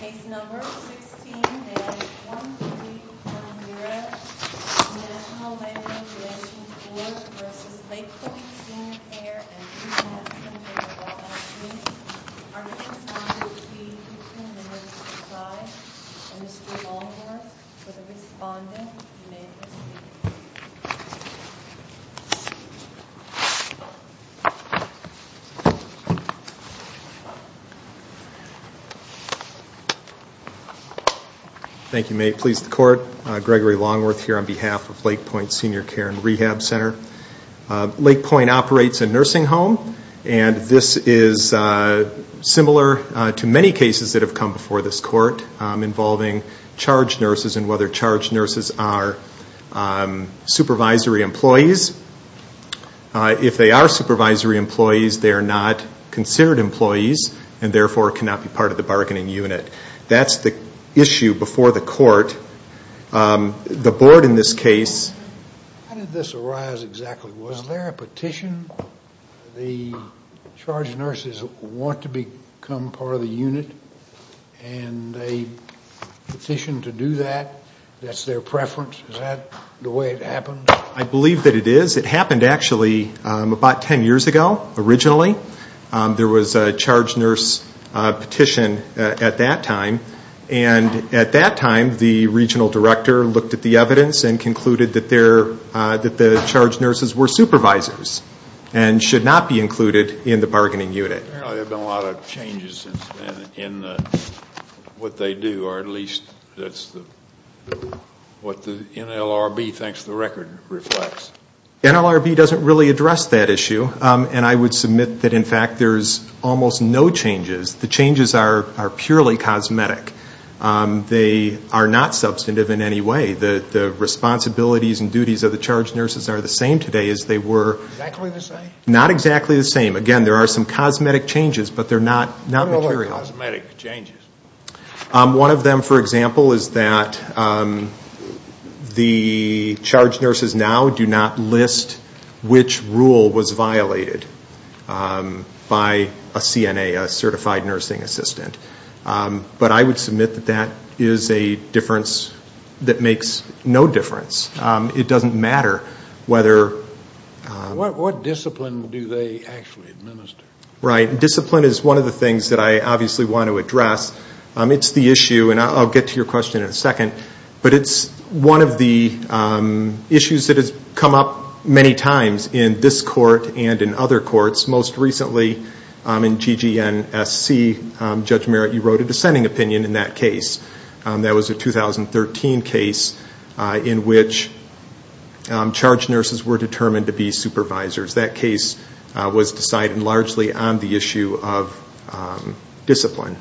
Case No. 16-A1310, National Veterans Relations Board v. Lake County Senior Care and Pre-Medicine for the Well-Being of Women. Our case number will be 15-05. Mr. Longworth, for the respondent, you may proceed. Thank you. May it please the Court, Gregory Longworth here on behalf of Lake Point Senior Care and Rehab Center. Lake Point operates a nursing home, and this is similar to many cases that have come before this Court involving charged nurses and whether charged nurses are supervisory employees. If they are supervisory employees, they are not considered employees and therefore cannot be part of the bargaining unit. That's the issue before the Court. The Board in this case... How did this arise exactly? Was there a petition? The charged nurses want to become part of the unit, and they petitioned to do that. That's their preference. Is that the way it happened? I believe that it is. It happened actually about 10 years ago, originally. There was a charged nurse petition at that time. At that time, the regional director looked at the evidence and concluded that the charged nurses were supervisors and should not be included in the bargaining unit. Apparently there have been a lot of changes in what they do, or at least what the NLRB thinks the record reflects. NLRB doesn't really address that issue, and I would submit that in fact there's almost no changes. The changes are purely cosmetic. They are not substantive in any way. The responsibilities and duties of the charged nurses are the same today as they were... Exactly the same? Not exactly the same. Again, there are some cosmetic changes, but they're not material. What are the cosmetic changes? One of them, for example, is that the charged nurses now do not list which rule was violated by a CNA, a certified nursing assistant. But I would submit that that is a difference that makes no difference. It doesn't matter whether... What discipline do they actually administer? Right. Discipline is one of the things that I obviously want to address. It's the issue, and I'll get to your question in a second, but it's one of the issues that has come up many times in this court and in other courts. Most recently in GGNSC, Judge Merritt, you wrote a dissenting opinion in that case. That was a 2013 case in which charged nurses were determined to be supervisors. That case was decided largely on the issue of discipline.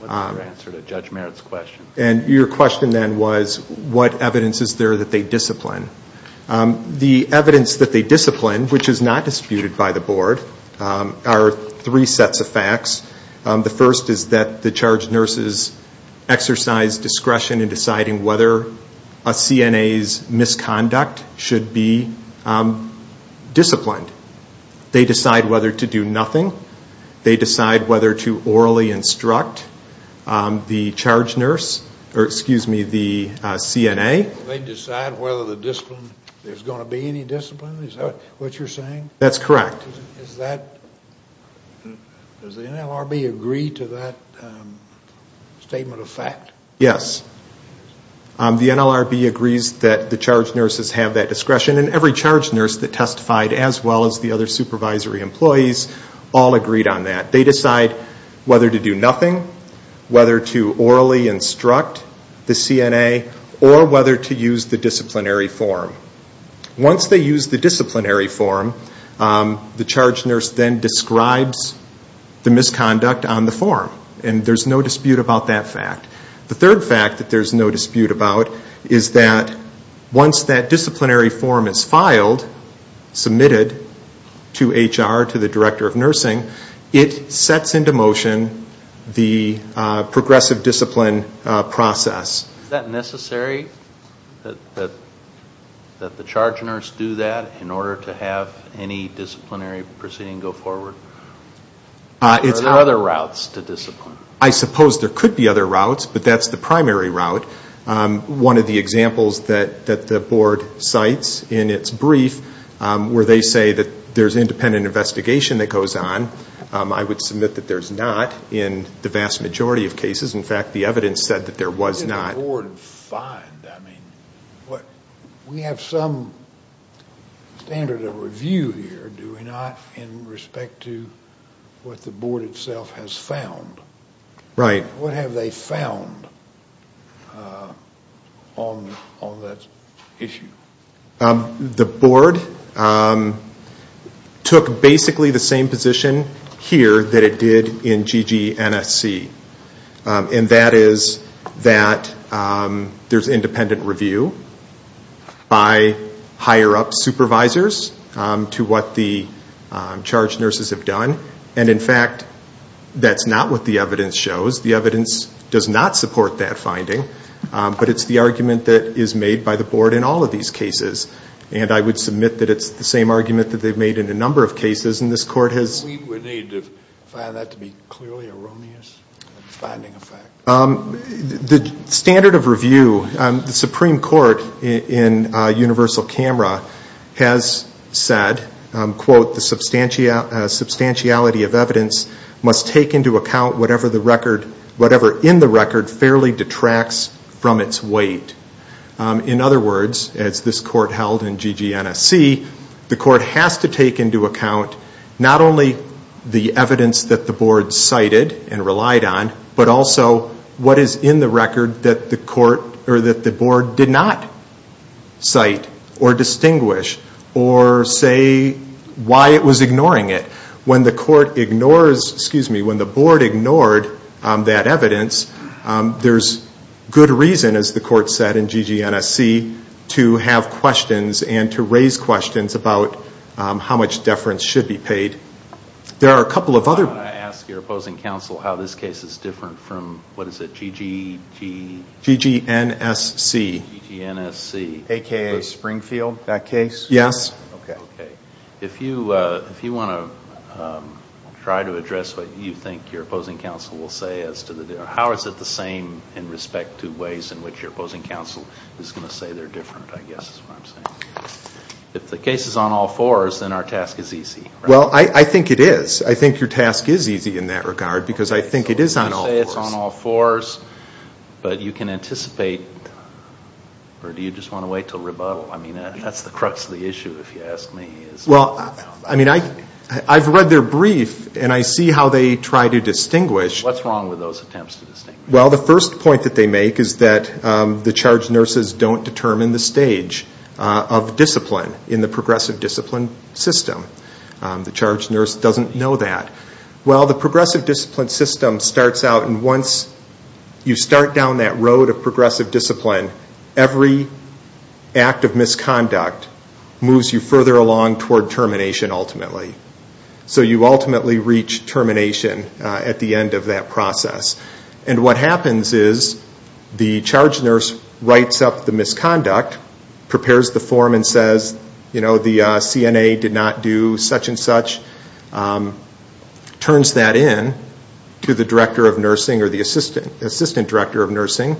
What's your answer to Judge Merritt's question? Your question then was, what evidence is there that they discipline? The evidence that they discipline, which is not disputed by the board, are three sets of facts. The first is that the charged nurses exercise discretion in deciding whether a CNA's misconduct should be disciplined. They decide whether to do nothing. They decide whether to orally instruct the charge nurse, or excuse me, the CNA. They decide whether there's going to be any discipline? Is that what you're saying? That's correct. Does the NLRB agree to that statement of fact? Yes. The NLRB agrees that the charged nurses have that discretion, and every charged nurse that testified, as well as the other supervisory employees, all agreed on that. They decide whether to do nothing, whether to orally instruct the CNA, or whether to use the disciplinary form. Once they use the disciplinary form, the charged nurse then describes the misconduct on the form. And there's no dispute about that fact. The third fact that there's no dispute about is that once that disciplinary form is filed, submitted to HR, to the Director of Nursing, it sets into motion the progressive discipline process. Is that necessary? That the charged nurse do that in order to have any disciplinary proceeding go forward? It's other routes to discipline. I suppose there could be other routes, but that's the primary route. One of the examples that the Board cites in its brief, where they say that there's independent investigation that goes on, I would submit that there's not in the vast majority of cases. In fact, the evidence said that there was not. What did the Board find? We have some standard of review here, do we not, in respect to what the Board itself has found? Right. What have they found on that issue? The Board took basically the same position here that it did in GG NSC. And that is that there's independent review by higher-up supervisors to what the charged nurses have done. And in fact, that's not what the evidence shows. The evidence does not support that finding. But it's the argument that is made by the Board in all of these cases. And I would submit that it's the same argument that they've made in a number of cases. We would need to find that to be clearly erroneous, the finding effect. The standard of review, the Supreme Court in universal camera has said, quote, the substantiality of evidence must take into account whatever in the record fairly detracts from its weight. In other words, as this Court held in GG NSC, the Court has to take into account not only the evidence that the Board cited and relied on, but also what is in the record that the Board did not cite or distinguish. Or say why it was ignoring it. When the Court ignores, excuse me, when the Board ignored that evidence, there's good reason, as the Court said in GG NSC, to have questions and to raise questions about how much deference should be paid. There are a couple of other... I want to ask your opposing counsel how this case is different from, what is it, GG... GG NSC. GG NSC. AKA Springfield, that case? Yes. Okay. If you want to try to address what you think your opposing counsel will say as to the... How is it the same in respect to ways in which your opposing counsel is going to say they're different, I guess is what I'm saying. If the case is on all fours, then our task is easy. Well, I think it is. I think your task is easy in that regard because I think it is on all fours. But you can anticipate, or do you just want to wait until rebuttal? I mean, that's the crux of the issue, if you ask me. Well, I mean, I've read their brief, and I see how they try to distinguish. What's wrong with those attempts to distinguish? Well, the first point that they make is that the charged nurses don't determine the stage of discipline in the progressive discipline system. The charged nurse doesn't know that. Well, the progressive discipline system starts out, and once you start down that road of progressive discipline, every act of misconduct moves you further along toward termination, ultimately. So you ultimately reach termination at the end of that process. And what happens is the charged nurse writes up the misconduct, prepares the form, and says, you know, the CNA did not do such and such, turns that in to the director of nursing or the assistant director of nursing,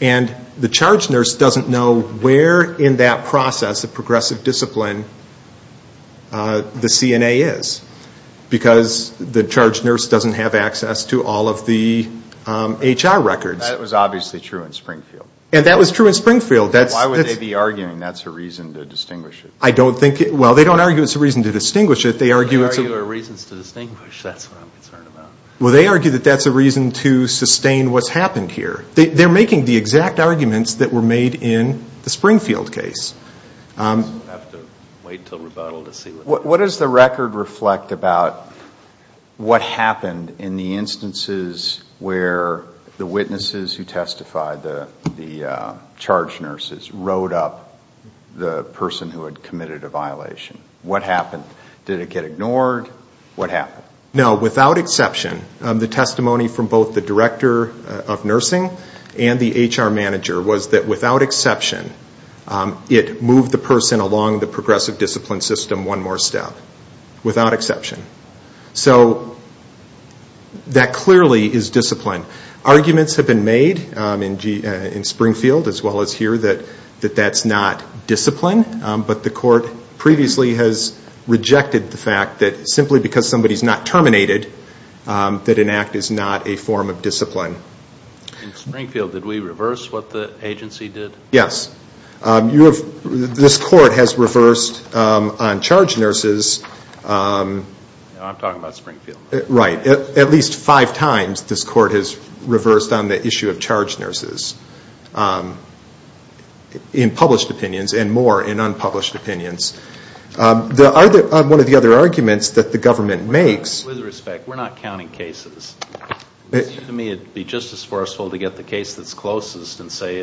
and the charged nurse doesn't know where in that process of progressive discipline the CNA is because the charged nurse doesn't have access to all of the HR records. That was obviously true in Springfield. And that was true in Springfield. Why would they be arguing that's a reason to distinguish it? Well, they don't argue it's a reason to distinguish it. They argue it's a reason to sustain what's happened here. They're making the exact arguments that were made in the Springfield case. We'll have to wait until rebuttal to see. What does the record reflect about what happened in the instances where the witnesses who testified, the charged nurses, wrote up the person who had committed a violation? What happened? Did it get ignored? What happened? Now, without exception, the testimony from both the director of nursing and the HR manager was that without exception, it moved the person along the progressive discipline system one more step, without exception. So that clearly is discipline. Arguments have been made in Springfield as well as here that that's not discipline, but the court previously has rejected the fact that simply because somebody's not terminated, that an act is not a form of discipline. In Springfield, did we reverse what the agency did? Yes. This court has reversed on charged nurses. I'm talking about Springfield. Right. At least five times this court has reversed on the issue of charged nurses in published opinions and more in unpublished opinions. One of the other arguments that the government makes. With respect, we're not counting cases. To me, it would be just as forceful to get the case that's closest and say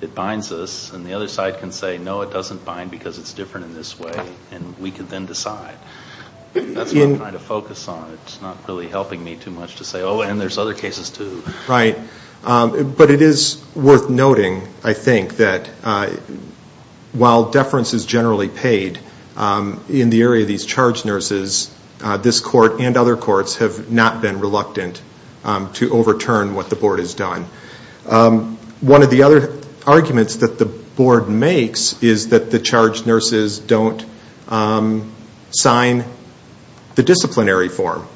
it binds us, and the other side can say, no, it doesn't bind because it's different in this way, and we can then decide. That's what I'm trying to focus on. It's not really helping me too much to say, oh, and there's other cases too. Right. But it is worth noting, I think, that while deference is generally paid, in the area of these charged nurses, this court and other courts have not been reluctant to overturn what the board has done. One of the other arguments that the board makes is that the charged nurses don't sign the disciplinary form.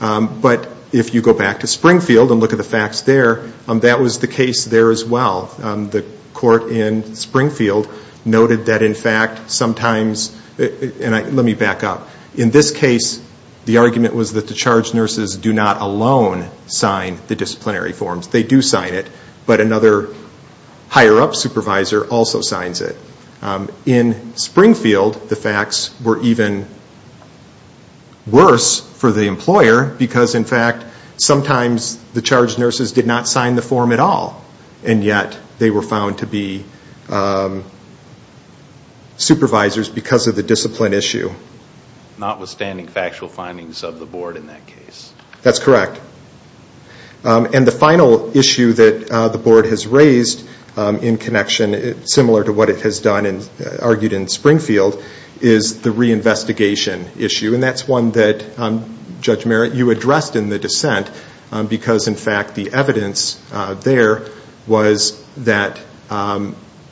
But if you go back to Springfield and look at the facts there, that was the case there as well. The court in Springfield noted that, in fact, sometimes, and let me back up. In this case, the argument was that the charged nurses do not alone sign the disciplinary forms. They do sign it, but another higher-up supervisor also signs it. In Springfield, the facts were even worse for the employer because, in fact, sometimes the charged nurses did not sign the form at all. And yet they were found to be supervisors because of the discipline issue. Notwithstanding factual findings of the board in that case. That's correct. And the final issue that the board has raised in connection, similar to what it has done and argued in Springfield, is the reinvestigation issue. And that's one that, Judge Merritt, you addressed in the dissent because, in fact, the evidence there was that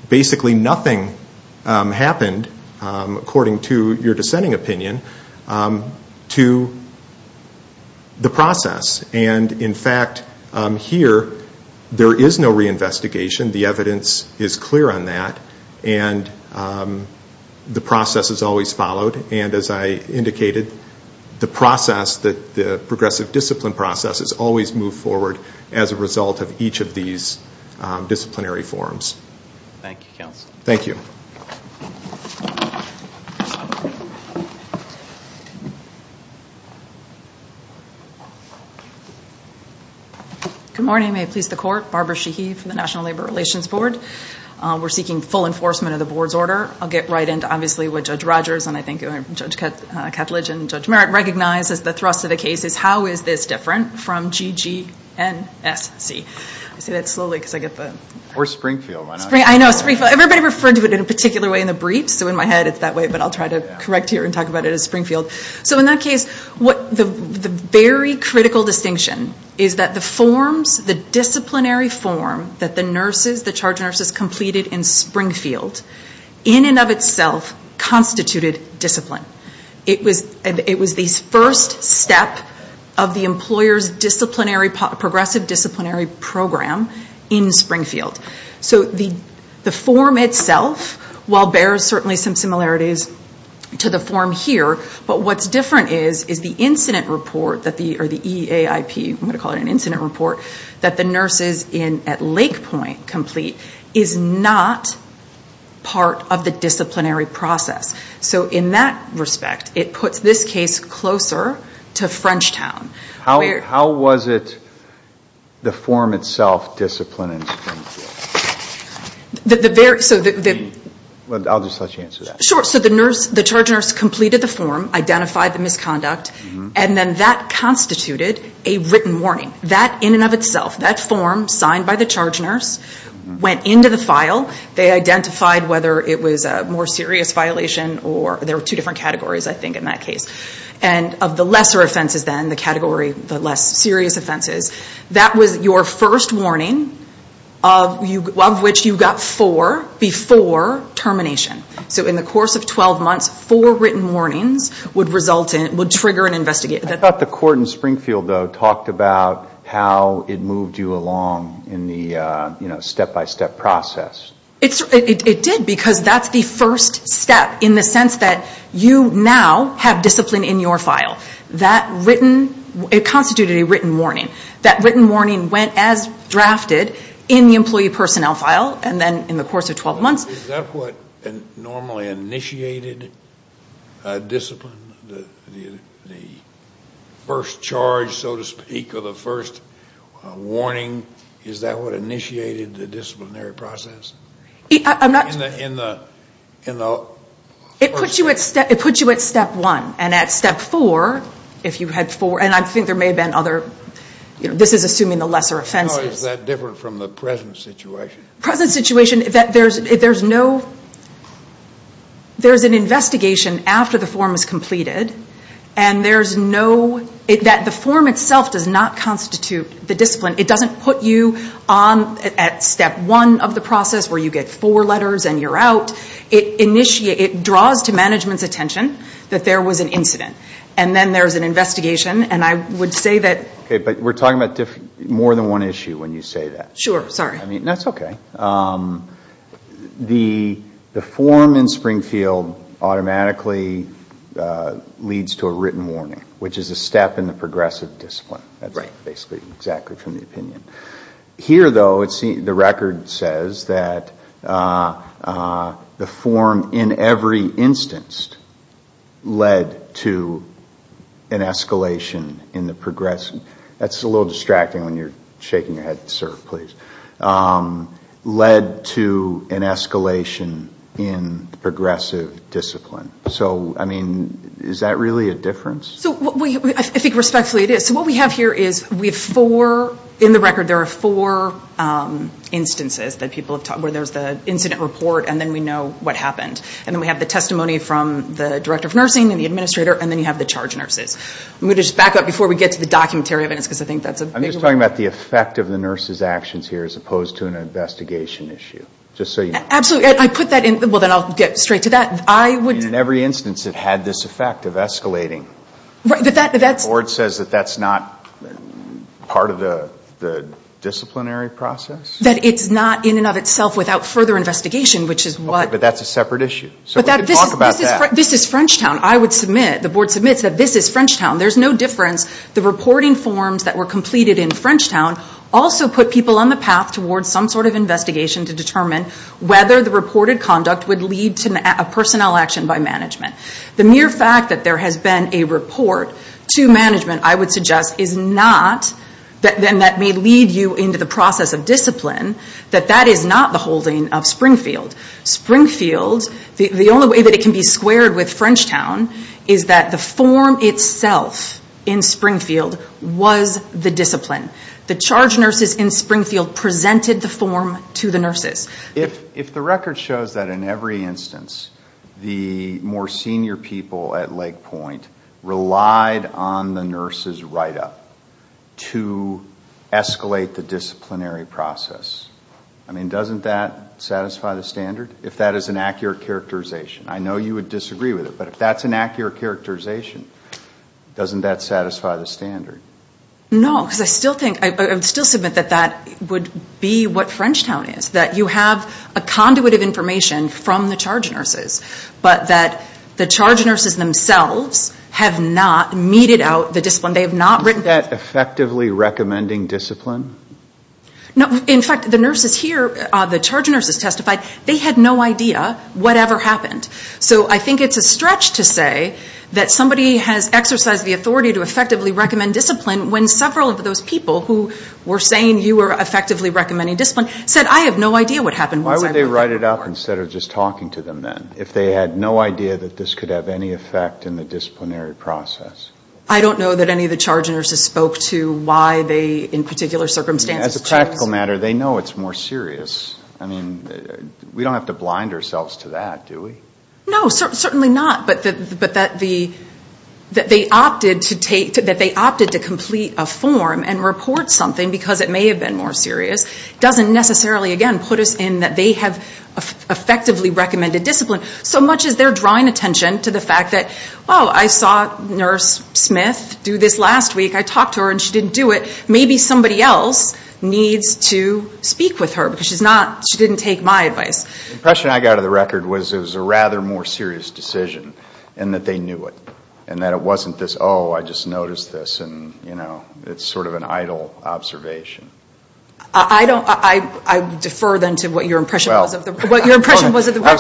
basically nothing happened, according to your dissenting opinion, to the process. And, in fact, here there is no reinvestigation. The evidence is clear on that. And the process is always followed. And, as I indicated, the process, the progressive discipline process, is always moved forward as a result of each of these disciplinary forms. Thank you, counsel. Thank you. Good morning. May it please the Court. Barbara Sheehy from the National Labor Relations Board. We're seeking full enforcement of the board's order. I'll get right into, obviously, what Judge Rogers and, I think, Judge Ketledge and Judge Merritt recognize as the thrust of the case, is how is this different from GGNSC? I say that slowly because I get the… Or Springfield. I know, Springfield. Everybody referred to it in a particular way in the brief, so in my head it's that way, but I'll try to correct here and talk about it as Springfield. So, in that case, the very critical distinction is that the forms, the disciplinary form, that the charge nurses completed in Springfield, in and of itself, constituted discipline. It was the first step of the employer's progressive disciplinary program in Springfield. So the form itself, while there are certainly some similarities to the form here, but what's different is the incident report, or the EAIP, I'm going to call it an incident report, that the nurses at Lake Point complete is not part of the disciplinary process. So, in that respect, it puts this case closer to Frenchtown. How was it, the form itself, disciplined in Springfield? I'll just let you answer that. Sure. So the charge nurse completed the form, identified the misconduct, and then that constituted a written warning. That, in and of itself, that form, signed by the charge nurse, went into the file. They identified whether it was a more serious violation, or there were two different categories, I think, in that case. And of the lesser offenses then, the category, the less serious offenses, that was your first warning of which you got four before termination. So in the course of 12 months, four written warnings would result in, would trigger an investigation. I thought the court in Springfield, though, talked about how it moved you along in the step-by-step process. It did, because that's the first step, in the sense that you now have discipline in your file. That written, it constituted a written warning. That written warning went as drafted in the employee personnel file, and then in the course of 12 months. Is that what normally initiated discipline, the first charge, so to speak, or the first warning? Is that what initiated the disciplinary process? I'm not. In the first. It puts you at step one. And at step four, if you had four, and I think there may have been other, this is assuming the lesser offenses. How is that different from the present situation? Present situation, there's no, there's an investigation after the form is completed, and there's no, that the form itself does not constitute the discipline. It doesn't put you on at step one of the process, where you get four letters and you're out. It draws to management's attention that there was an incident. And then there's an investigation, and I would say that. Okay, but we're talking about more than one issue when you say that. Sure, sorry. I mean, that's okay. The form in Springfield automatically leads to a written warning, which is a step in the progressive discipline. That's basically exactly from the opinion. Here, though, the record says that the form in every instance led to an escalation in the progressive. That's a little distracting when you're shaking your head, sir, please. Led to an escalation in the progressive discipline. So, I mean, is that really a difference? I think respectfully it is. So what we have here is we have four, in the record there are four instances that people have talked, where there's the incident report and then we know what happened. And then we have the testimony from the director of nursing and the administrator, and then you have the charge nurses. I'm going to just back up before we get to the documentary evidence because I think that's a big one. I'm just talking about the effect of the nurses' actions here as opposed to an investigation issue. Absolutely. I put that in. Well, then I'll get straight to that. I would. In every instance it had this effect of escalating. Right, but that's. The board says that that's not part of the disciplinary process? That it's not in and of itself without further investigation, which is what. Okay, but that's a separate issue. So we could talk about that. This is Frenchtown. I would submit, the board submits that this is Frenchtown. There's no difference. The reporting forms that were completed in Frenchtown also put people on the path towards some sort of investigation to determine whether the reported conduct would lead to a personnel action by management. The mere fact that there has been a report to management, I would suggest, is not, and that may lead you into the process of discipline, that that is not the holding of Springfield. Springfield, the only way that it can be squared with Frenchtown is that the form itself in Springfield was the discipline. The charge nurses in Springfield presented the form to the nurses. If the record shows that in every instance the more senior people at Lake Point relied on the nurses' write-up to escalate the disciplinary process, I mean, doesn't that satisfy the standard? If that is an accurate characterization. I know you would disagree with it, but if that's an accurate characterization, doesn't that satisfy the standard? No, because I still think, I would still submit that that would be what Frenchtown is, that you have a conduit of information from the charge nurses, but that the charge nurses themselves have not meted out the discipline. They have not written. Is that effectively recommending discipline? No. In fact, the nurses here, the charge nurses testified, they had no idea whatever happened. So I think it's a stretch to say that somebody has exercised the authority to effectively recommend discipline when several of those people who were saying you were effectively recommending discipline said, I have no idea what happened. Why would they write it up instead of just talking to them then, if they had no idea that this could have any effect in the disciplinary process? I don't know that any of the charge nurses spoke to why they, in particular circumstances. As a practical matter, they know it's more serious. I mean, we don't have to blind ourselves to that, do we? No, certainly not. But that they opted to complete a form and report something because it may have been more serious doesn't necessarily, again, put us in that they have effectively recommended discipline, so much as they're drawing attention to the fact that, well, I saw Nurse Smith do this last week. I talked to her and she didn't do it. Maybe somebody else needs to speak with her because she didn't take my advice. The impression I got of the record was it was a rather more serious decision and that they knew it and that it wasn't this, oh, I just noticed this, and, you know, it's sort of an idle observation. I was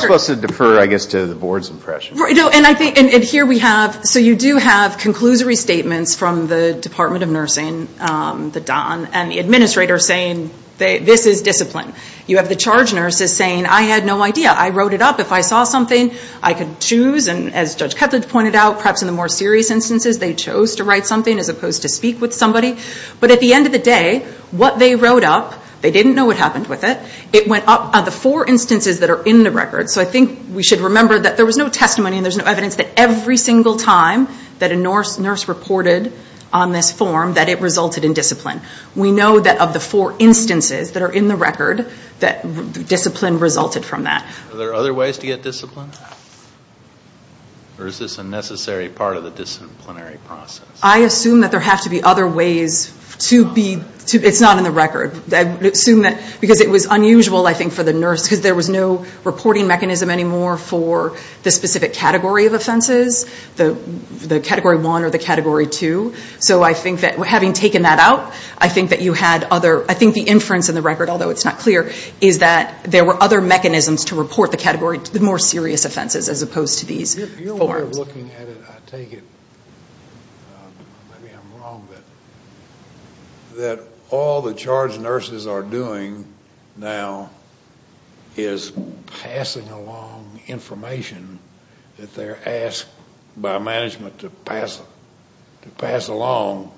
supposed to defer, I guess, to the board's impression. And here we have, so you do have conclusory statements from the Department of Nursing, the Don, and the administrator saying this is discipline. You have the charge nurses saying I had no idea. I wrote it up. If I saw something, I could choose, and as Judge Ketledge pointed out, perhaps in the more serious instances, they chose to write something as opposed to speak with somebody. But at the end of the day, what they wrote up, they didn't know what happened with it. It went up of the four instances that are in the record. So I think we should remember that there was no testimony and there's no evidence that every single time that a nurse reported on this form, that it resulted in discipline. We know that of the four instances that are in the record, that discipline resulted from that. Are there other ways to get discipline? Or is this a necessary part of the disciplinary process? I assume that there have to be other ways to be, it's not in the record. Because it was unusual, I think, for the nurse, because there was no reporting mechanism anymore for the specific category of offenses, the Category 1 or the Category 2. So I think that having taken that out, I think that you had other, I think the inference in the record, although it's not clear, is that there were other mechanisms to report the more serious offenses as opposed to these forms. If you were looking at it, I take it, maybe I'm wrong, that all the charge nurses are doing now is passing along information that they're asked by management to pass along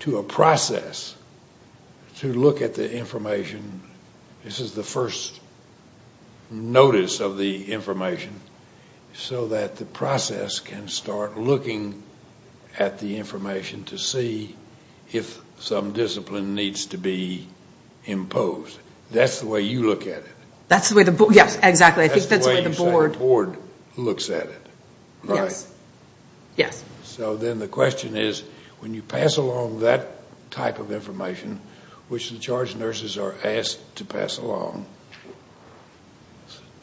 to a process to look at the information. This is the first notice of the information, so that the process can start looking at the information to see if some discipline needs to be imposed. That's the way you look at it. That's the way the board looks at it, right? Yes. So then the question is, when you pass along that type of information, which the charge nurses are asked to pass along,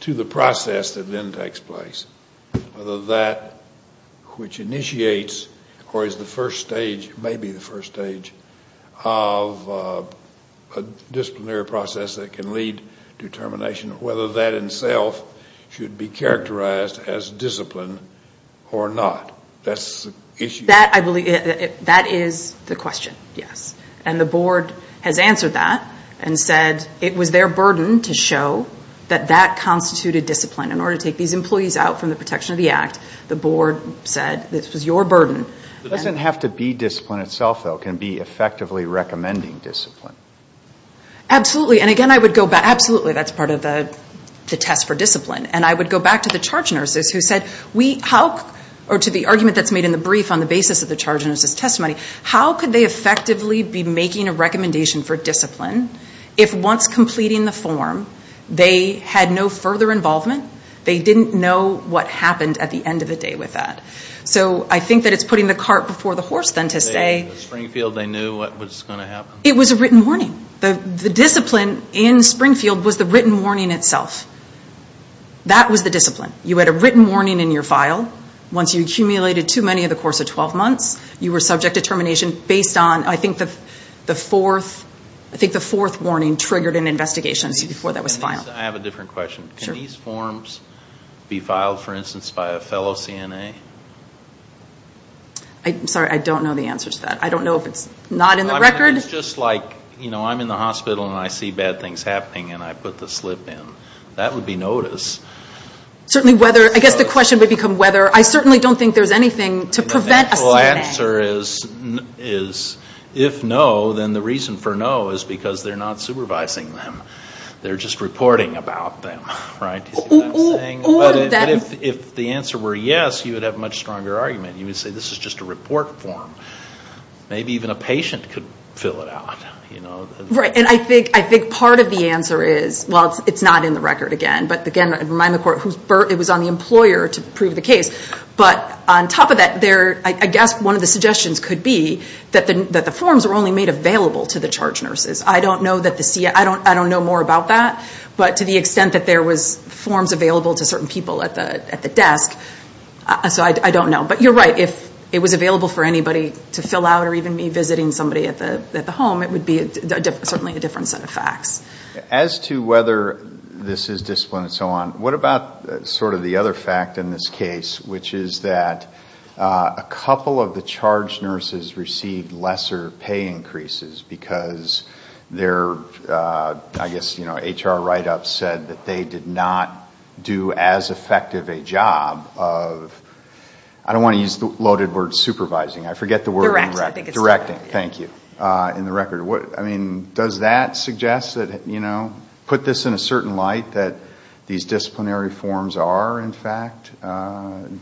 to the process that then takes place, whether that which initiates or is the first stage, maybe the first stage, of a disciplinary process that can lead to termination, whether that itself should be characterized as discipline or not. That's the issue. That is the question, yes. And the board has answered that and said it was their burden to show that that constituted discipline. In order to take these employees out from the protection of the Act, the board said this was your burden. It doesn't have to be discipline itself, though. It can be effectively recommending discipline. Absolutely. And again, I would go back. Absolutely, that's part of the test for discipline. And I would go back to the charge nurses who said, or to the argument that's made in the brief on the basis of the charge nurses' testimony, how could they effectively be making a recommendation for discipline if, once completing the form, they had no further involvement? They didn't know what happened at the end of the day with that. So I think that it's putting the cart before the horse, then, to say… In Springfield, they knew what was going to happen. It was a written warning. The discipline in Springfield was the written warning itself. That was the discipline. You had a written warning in your file. Once you accumulated too many over the course of 12 months, you were subject to termination based on, I think, the fourth warning triggered in investigations before that was filed. I have a different question. Sure. Can these forms be filed, for instance, by a fellow CNA? I'm sorry, I don't know the answer to that. I don't know if it's not in the record. It's just like, you know, I'm in the hospital and I see bad things happening and I put the slip in. That would be notice. I guess the question would become whether. I certainly don't think there's anything to prevent a CNA. The natural answer is, if no, then the reason for no is because they're not supervising them. They're just reporting about them. Right? Do you see what I'm saying? But if the answer were yes, you would have a much stronger argument. You would say this is just a report form. Maybe even a patient could fill it out. Right. And I think part of the answer is, well, it's not in the record again. But again, I'd remind the court it was on the employer to prove the case. But on top of that, I guess one of the suggestions could be that the forms were only made available to the charge nurses. I don't know more about that. But to the extent that there was forms available to certain people at the desk, so I don't know. But you're right. If it was available for anybody to fill out or even me visiting somebody at the home, it would be certainly a different set of facts. As to whether this is discipline and so on, what about sort of the other fact in this case, which is that a couple of the charge nurses received lesser pay increases because their, I guess, HR write-up said that they did not do as effective a job of, I don't want to use the loaded word, supervising. I forget the word. Directing. Directing. Thank you. In the record. I mean, does that suggest that, you know, put this in a certain light that these disciplinary forms are, in fact,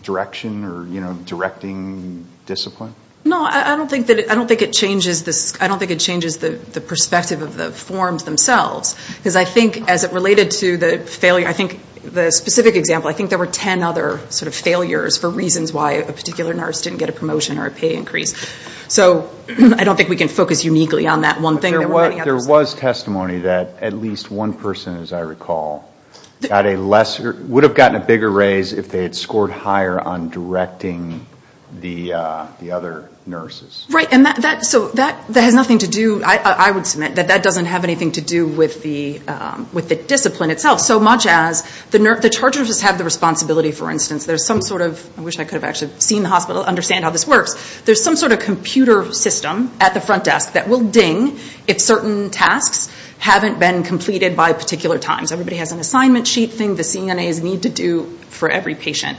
direction or, you know, directing discipline? No. I don't think it changes the perspective of the forms themselves. Because I think as it related to the failure, I think the specific example, I think there were ten other sort of failures for reasons why a particular nurse didn't get a promotion or a pay increase. So I don't think we can focus uniquely on that one thing. There was testimony that at least one person, as I recall, got a lesser, would have gotten a bigger raise if they had scored higher on directing the other nurses. Right. So that has nothing to do, I would submit, that that doesn't have anything to do with the discipline itself. So much as the charge nurses have the responsibility, for instance, there's some sort of, I wish I could have actually seen the hospital understand how this works. There's some sort of computer system at the front desk that will ding if certain tasks haven't been completed by particular times. Everybody has an assignment sheet thing the CNAs need to do for every patient.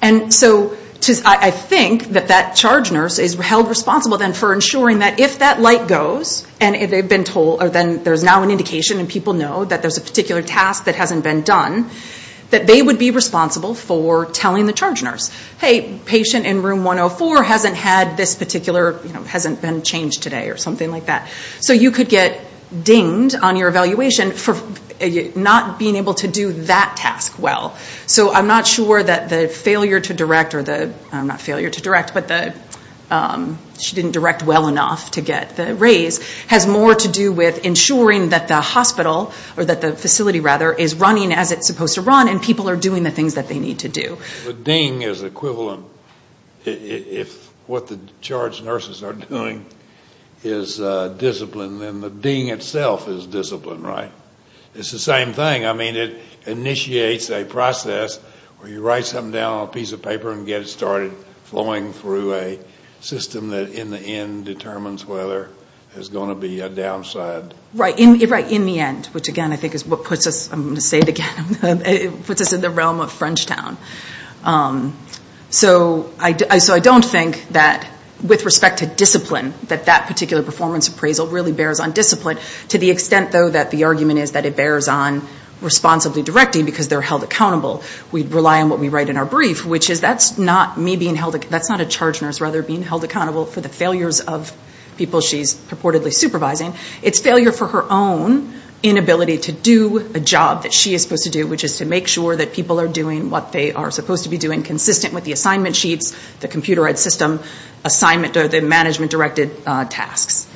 And so I think that that charge nurse is held responsible then for ensuring that if that light goes, and if they've been told or then there's now an indication and people know that there's a particular task that hasn't been done, that they would be responsible for telling the charge nurse, hey, patient in room 104 hasn't had this particular, hasn't been changed today or something like that. So you could get dinged on your evaluation for not being able to do that task well. So I'm not sure that the failure to direct or the, not failure to direct, but she didn't direct well enough to get the raise has more to do with ensuring that the hospital, or that the facility rather, is running as it's supposed to run and people are doing the things that they need to do. The ding is equivalent, if what the charge nurses are doing is discipline, then the ding itself is discipline, right? It's the same thing. I mean it initiates a process where you write something down on a piece of paper and get it started flowing through a system that in the end determines whether there's going to be a downside. Right, in the end, which again I think is what puts us, I'm going to say it again, puts us in the realm of French town. So I don't think that with respect to discipline, that that particular performance appraisal really bears on discipline. To the extent though that the argument is that it bears on responsibly directing because they're held accountable. We rely on what we write in our brief, which is that's not me being held, that's not a charge nurse rather being held accountable for the failures of people she's purportedly supervising. It's failure for her own inability to do a job that she is supposed to do, which is to make sure that people are doing what they are supposed to be doing, consistent with the assignment sheets, the computerized system, assignment or the management directed tasks.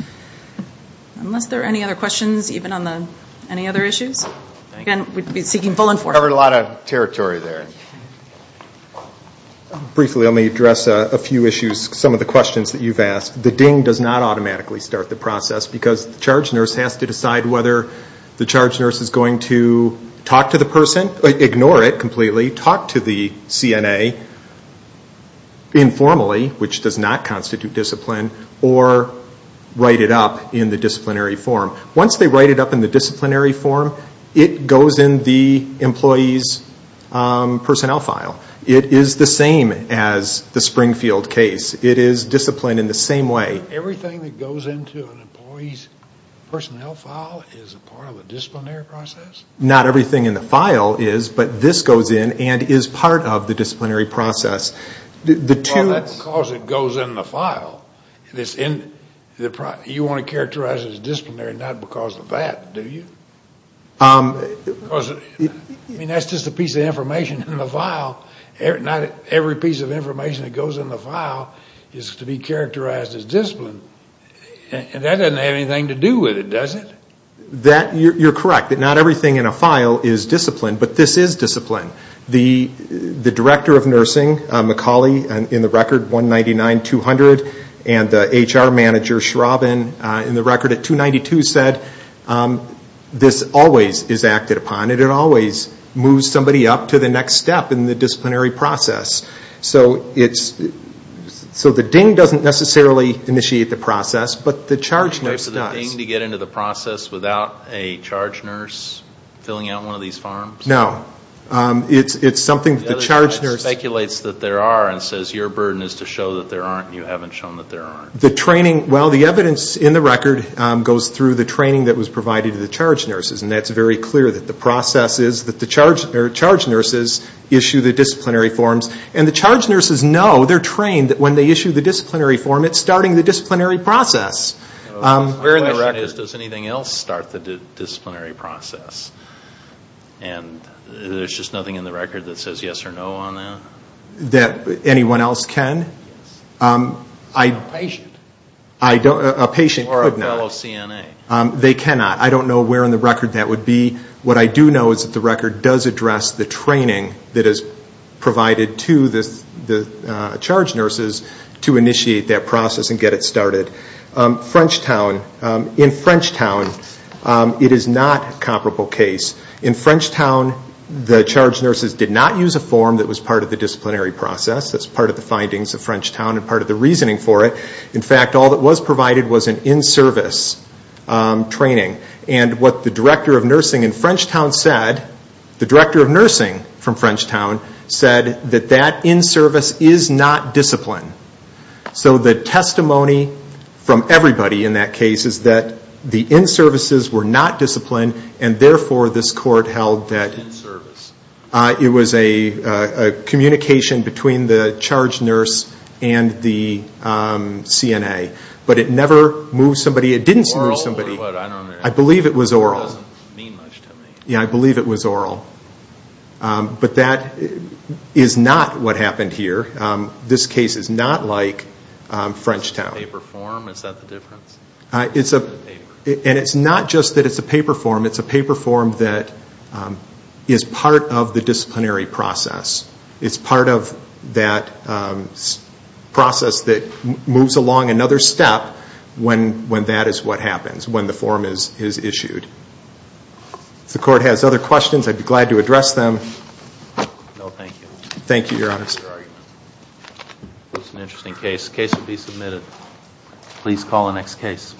Unless there are any other questions, even on the, any other issues? Again, we'd be seeking full enforcement. We covered a lot of territory there. Briefly, let me address a few issues, some of the questions that you've asked. The DING does not automatically start the process because the charge nurse has to decide whether the charge nurse is going to talk to the person, ignore it completely, talk to the CNA informally, which does not constitute discipline, or write it up in the disciplinary form. Once they write it up in the disciplinary form, it goes in the employee's personnel file. It is the same as the Springfield case. It is disciplined in the same way. Everything that goes into an employee's personnel file is a part of a disciplinary process? Not everything in the file is, but this goes in and is part of the disciplinary process. Well, that's because it goes in the file. You want to characterize it as disciplinary, not because of that, do you? I mean, that's just a piece of information in the file. Not every piece of information that goes in the file is to be characterized as disciplined. That doesn't have anything to do with it, does it? You're correct. Not everything in a file is discipline, but this is discipline. The director of nursing, Macaulay, in the record, 199-200, and the HR manager, Schrauben, in the record at 292, said this always is acted upon. It always moves somebody up to the next step in the disciplinary process. So the DING doesn't necessarily initiate the process, but the charge nurse does. Is it okay for the DING to get into the process without a charge nurse filling out one of these forms? No. It's something that the charge nurse... The charge nurse speculates that there are and says your burden is to show that there aren't and you haven't shown that there aren't. Well, the evidence in the record goes through the training that was provided to the charge nurses, and that's very clear that the process is that the charge nurses issue the disciplinary forms. And the charge nurses know, they're trained, that when they issue the disciplinary form, it's starting the disciplinary process. My question is, does anything else start the disciplinary process? And there's just nothing in the record that says yes or no on that? That anyone else can? Yes. A patient. A patient could not. Or a fellow CNA. They cannot. I don't know where in the record that would be. What I do know is that the record does address the training that is provided to the charge nurses to initiate that process and get it started. French Town. In French Town, it is not a comparable case. In French Town, the charge nurses did not use a form that was part of the disciplinary process. That's part of the findings of French Town and part of the reasoning for it. In fact, all that was provided was an in-service training. And what the director of nursing in French Town said, the director of nursing from French Town, said that that in-service is not discipline. So the testimony from everybody in that case is that the in-services were not discipline, and therefore this court held that in-service. It was a communication between the charge nurse and the CNA. But it never moved somebody. It didn't move somebody. Oral or what? I don't understand. I believe it was oral. That doesn't mean much to me. Yeah, I believe it was oral. But that is not what happened here. This case is not like French Town. Paper form? Is that the difference? It's a paper. And it's not just that it's a paper form. It's a paper form that is part of the disciplinary process. It's part of that process that moves along another step when that is what happens, when the form is issued. If the court has other questions, I'd be glad to address them. No, thank you. Thank you, Your Honor. It was an interesting case. The case will be submitted. Please call the next case.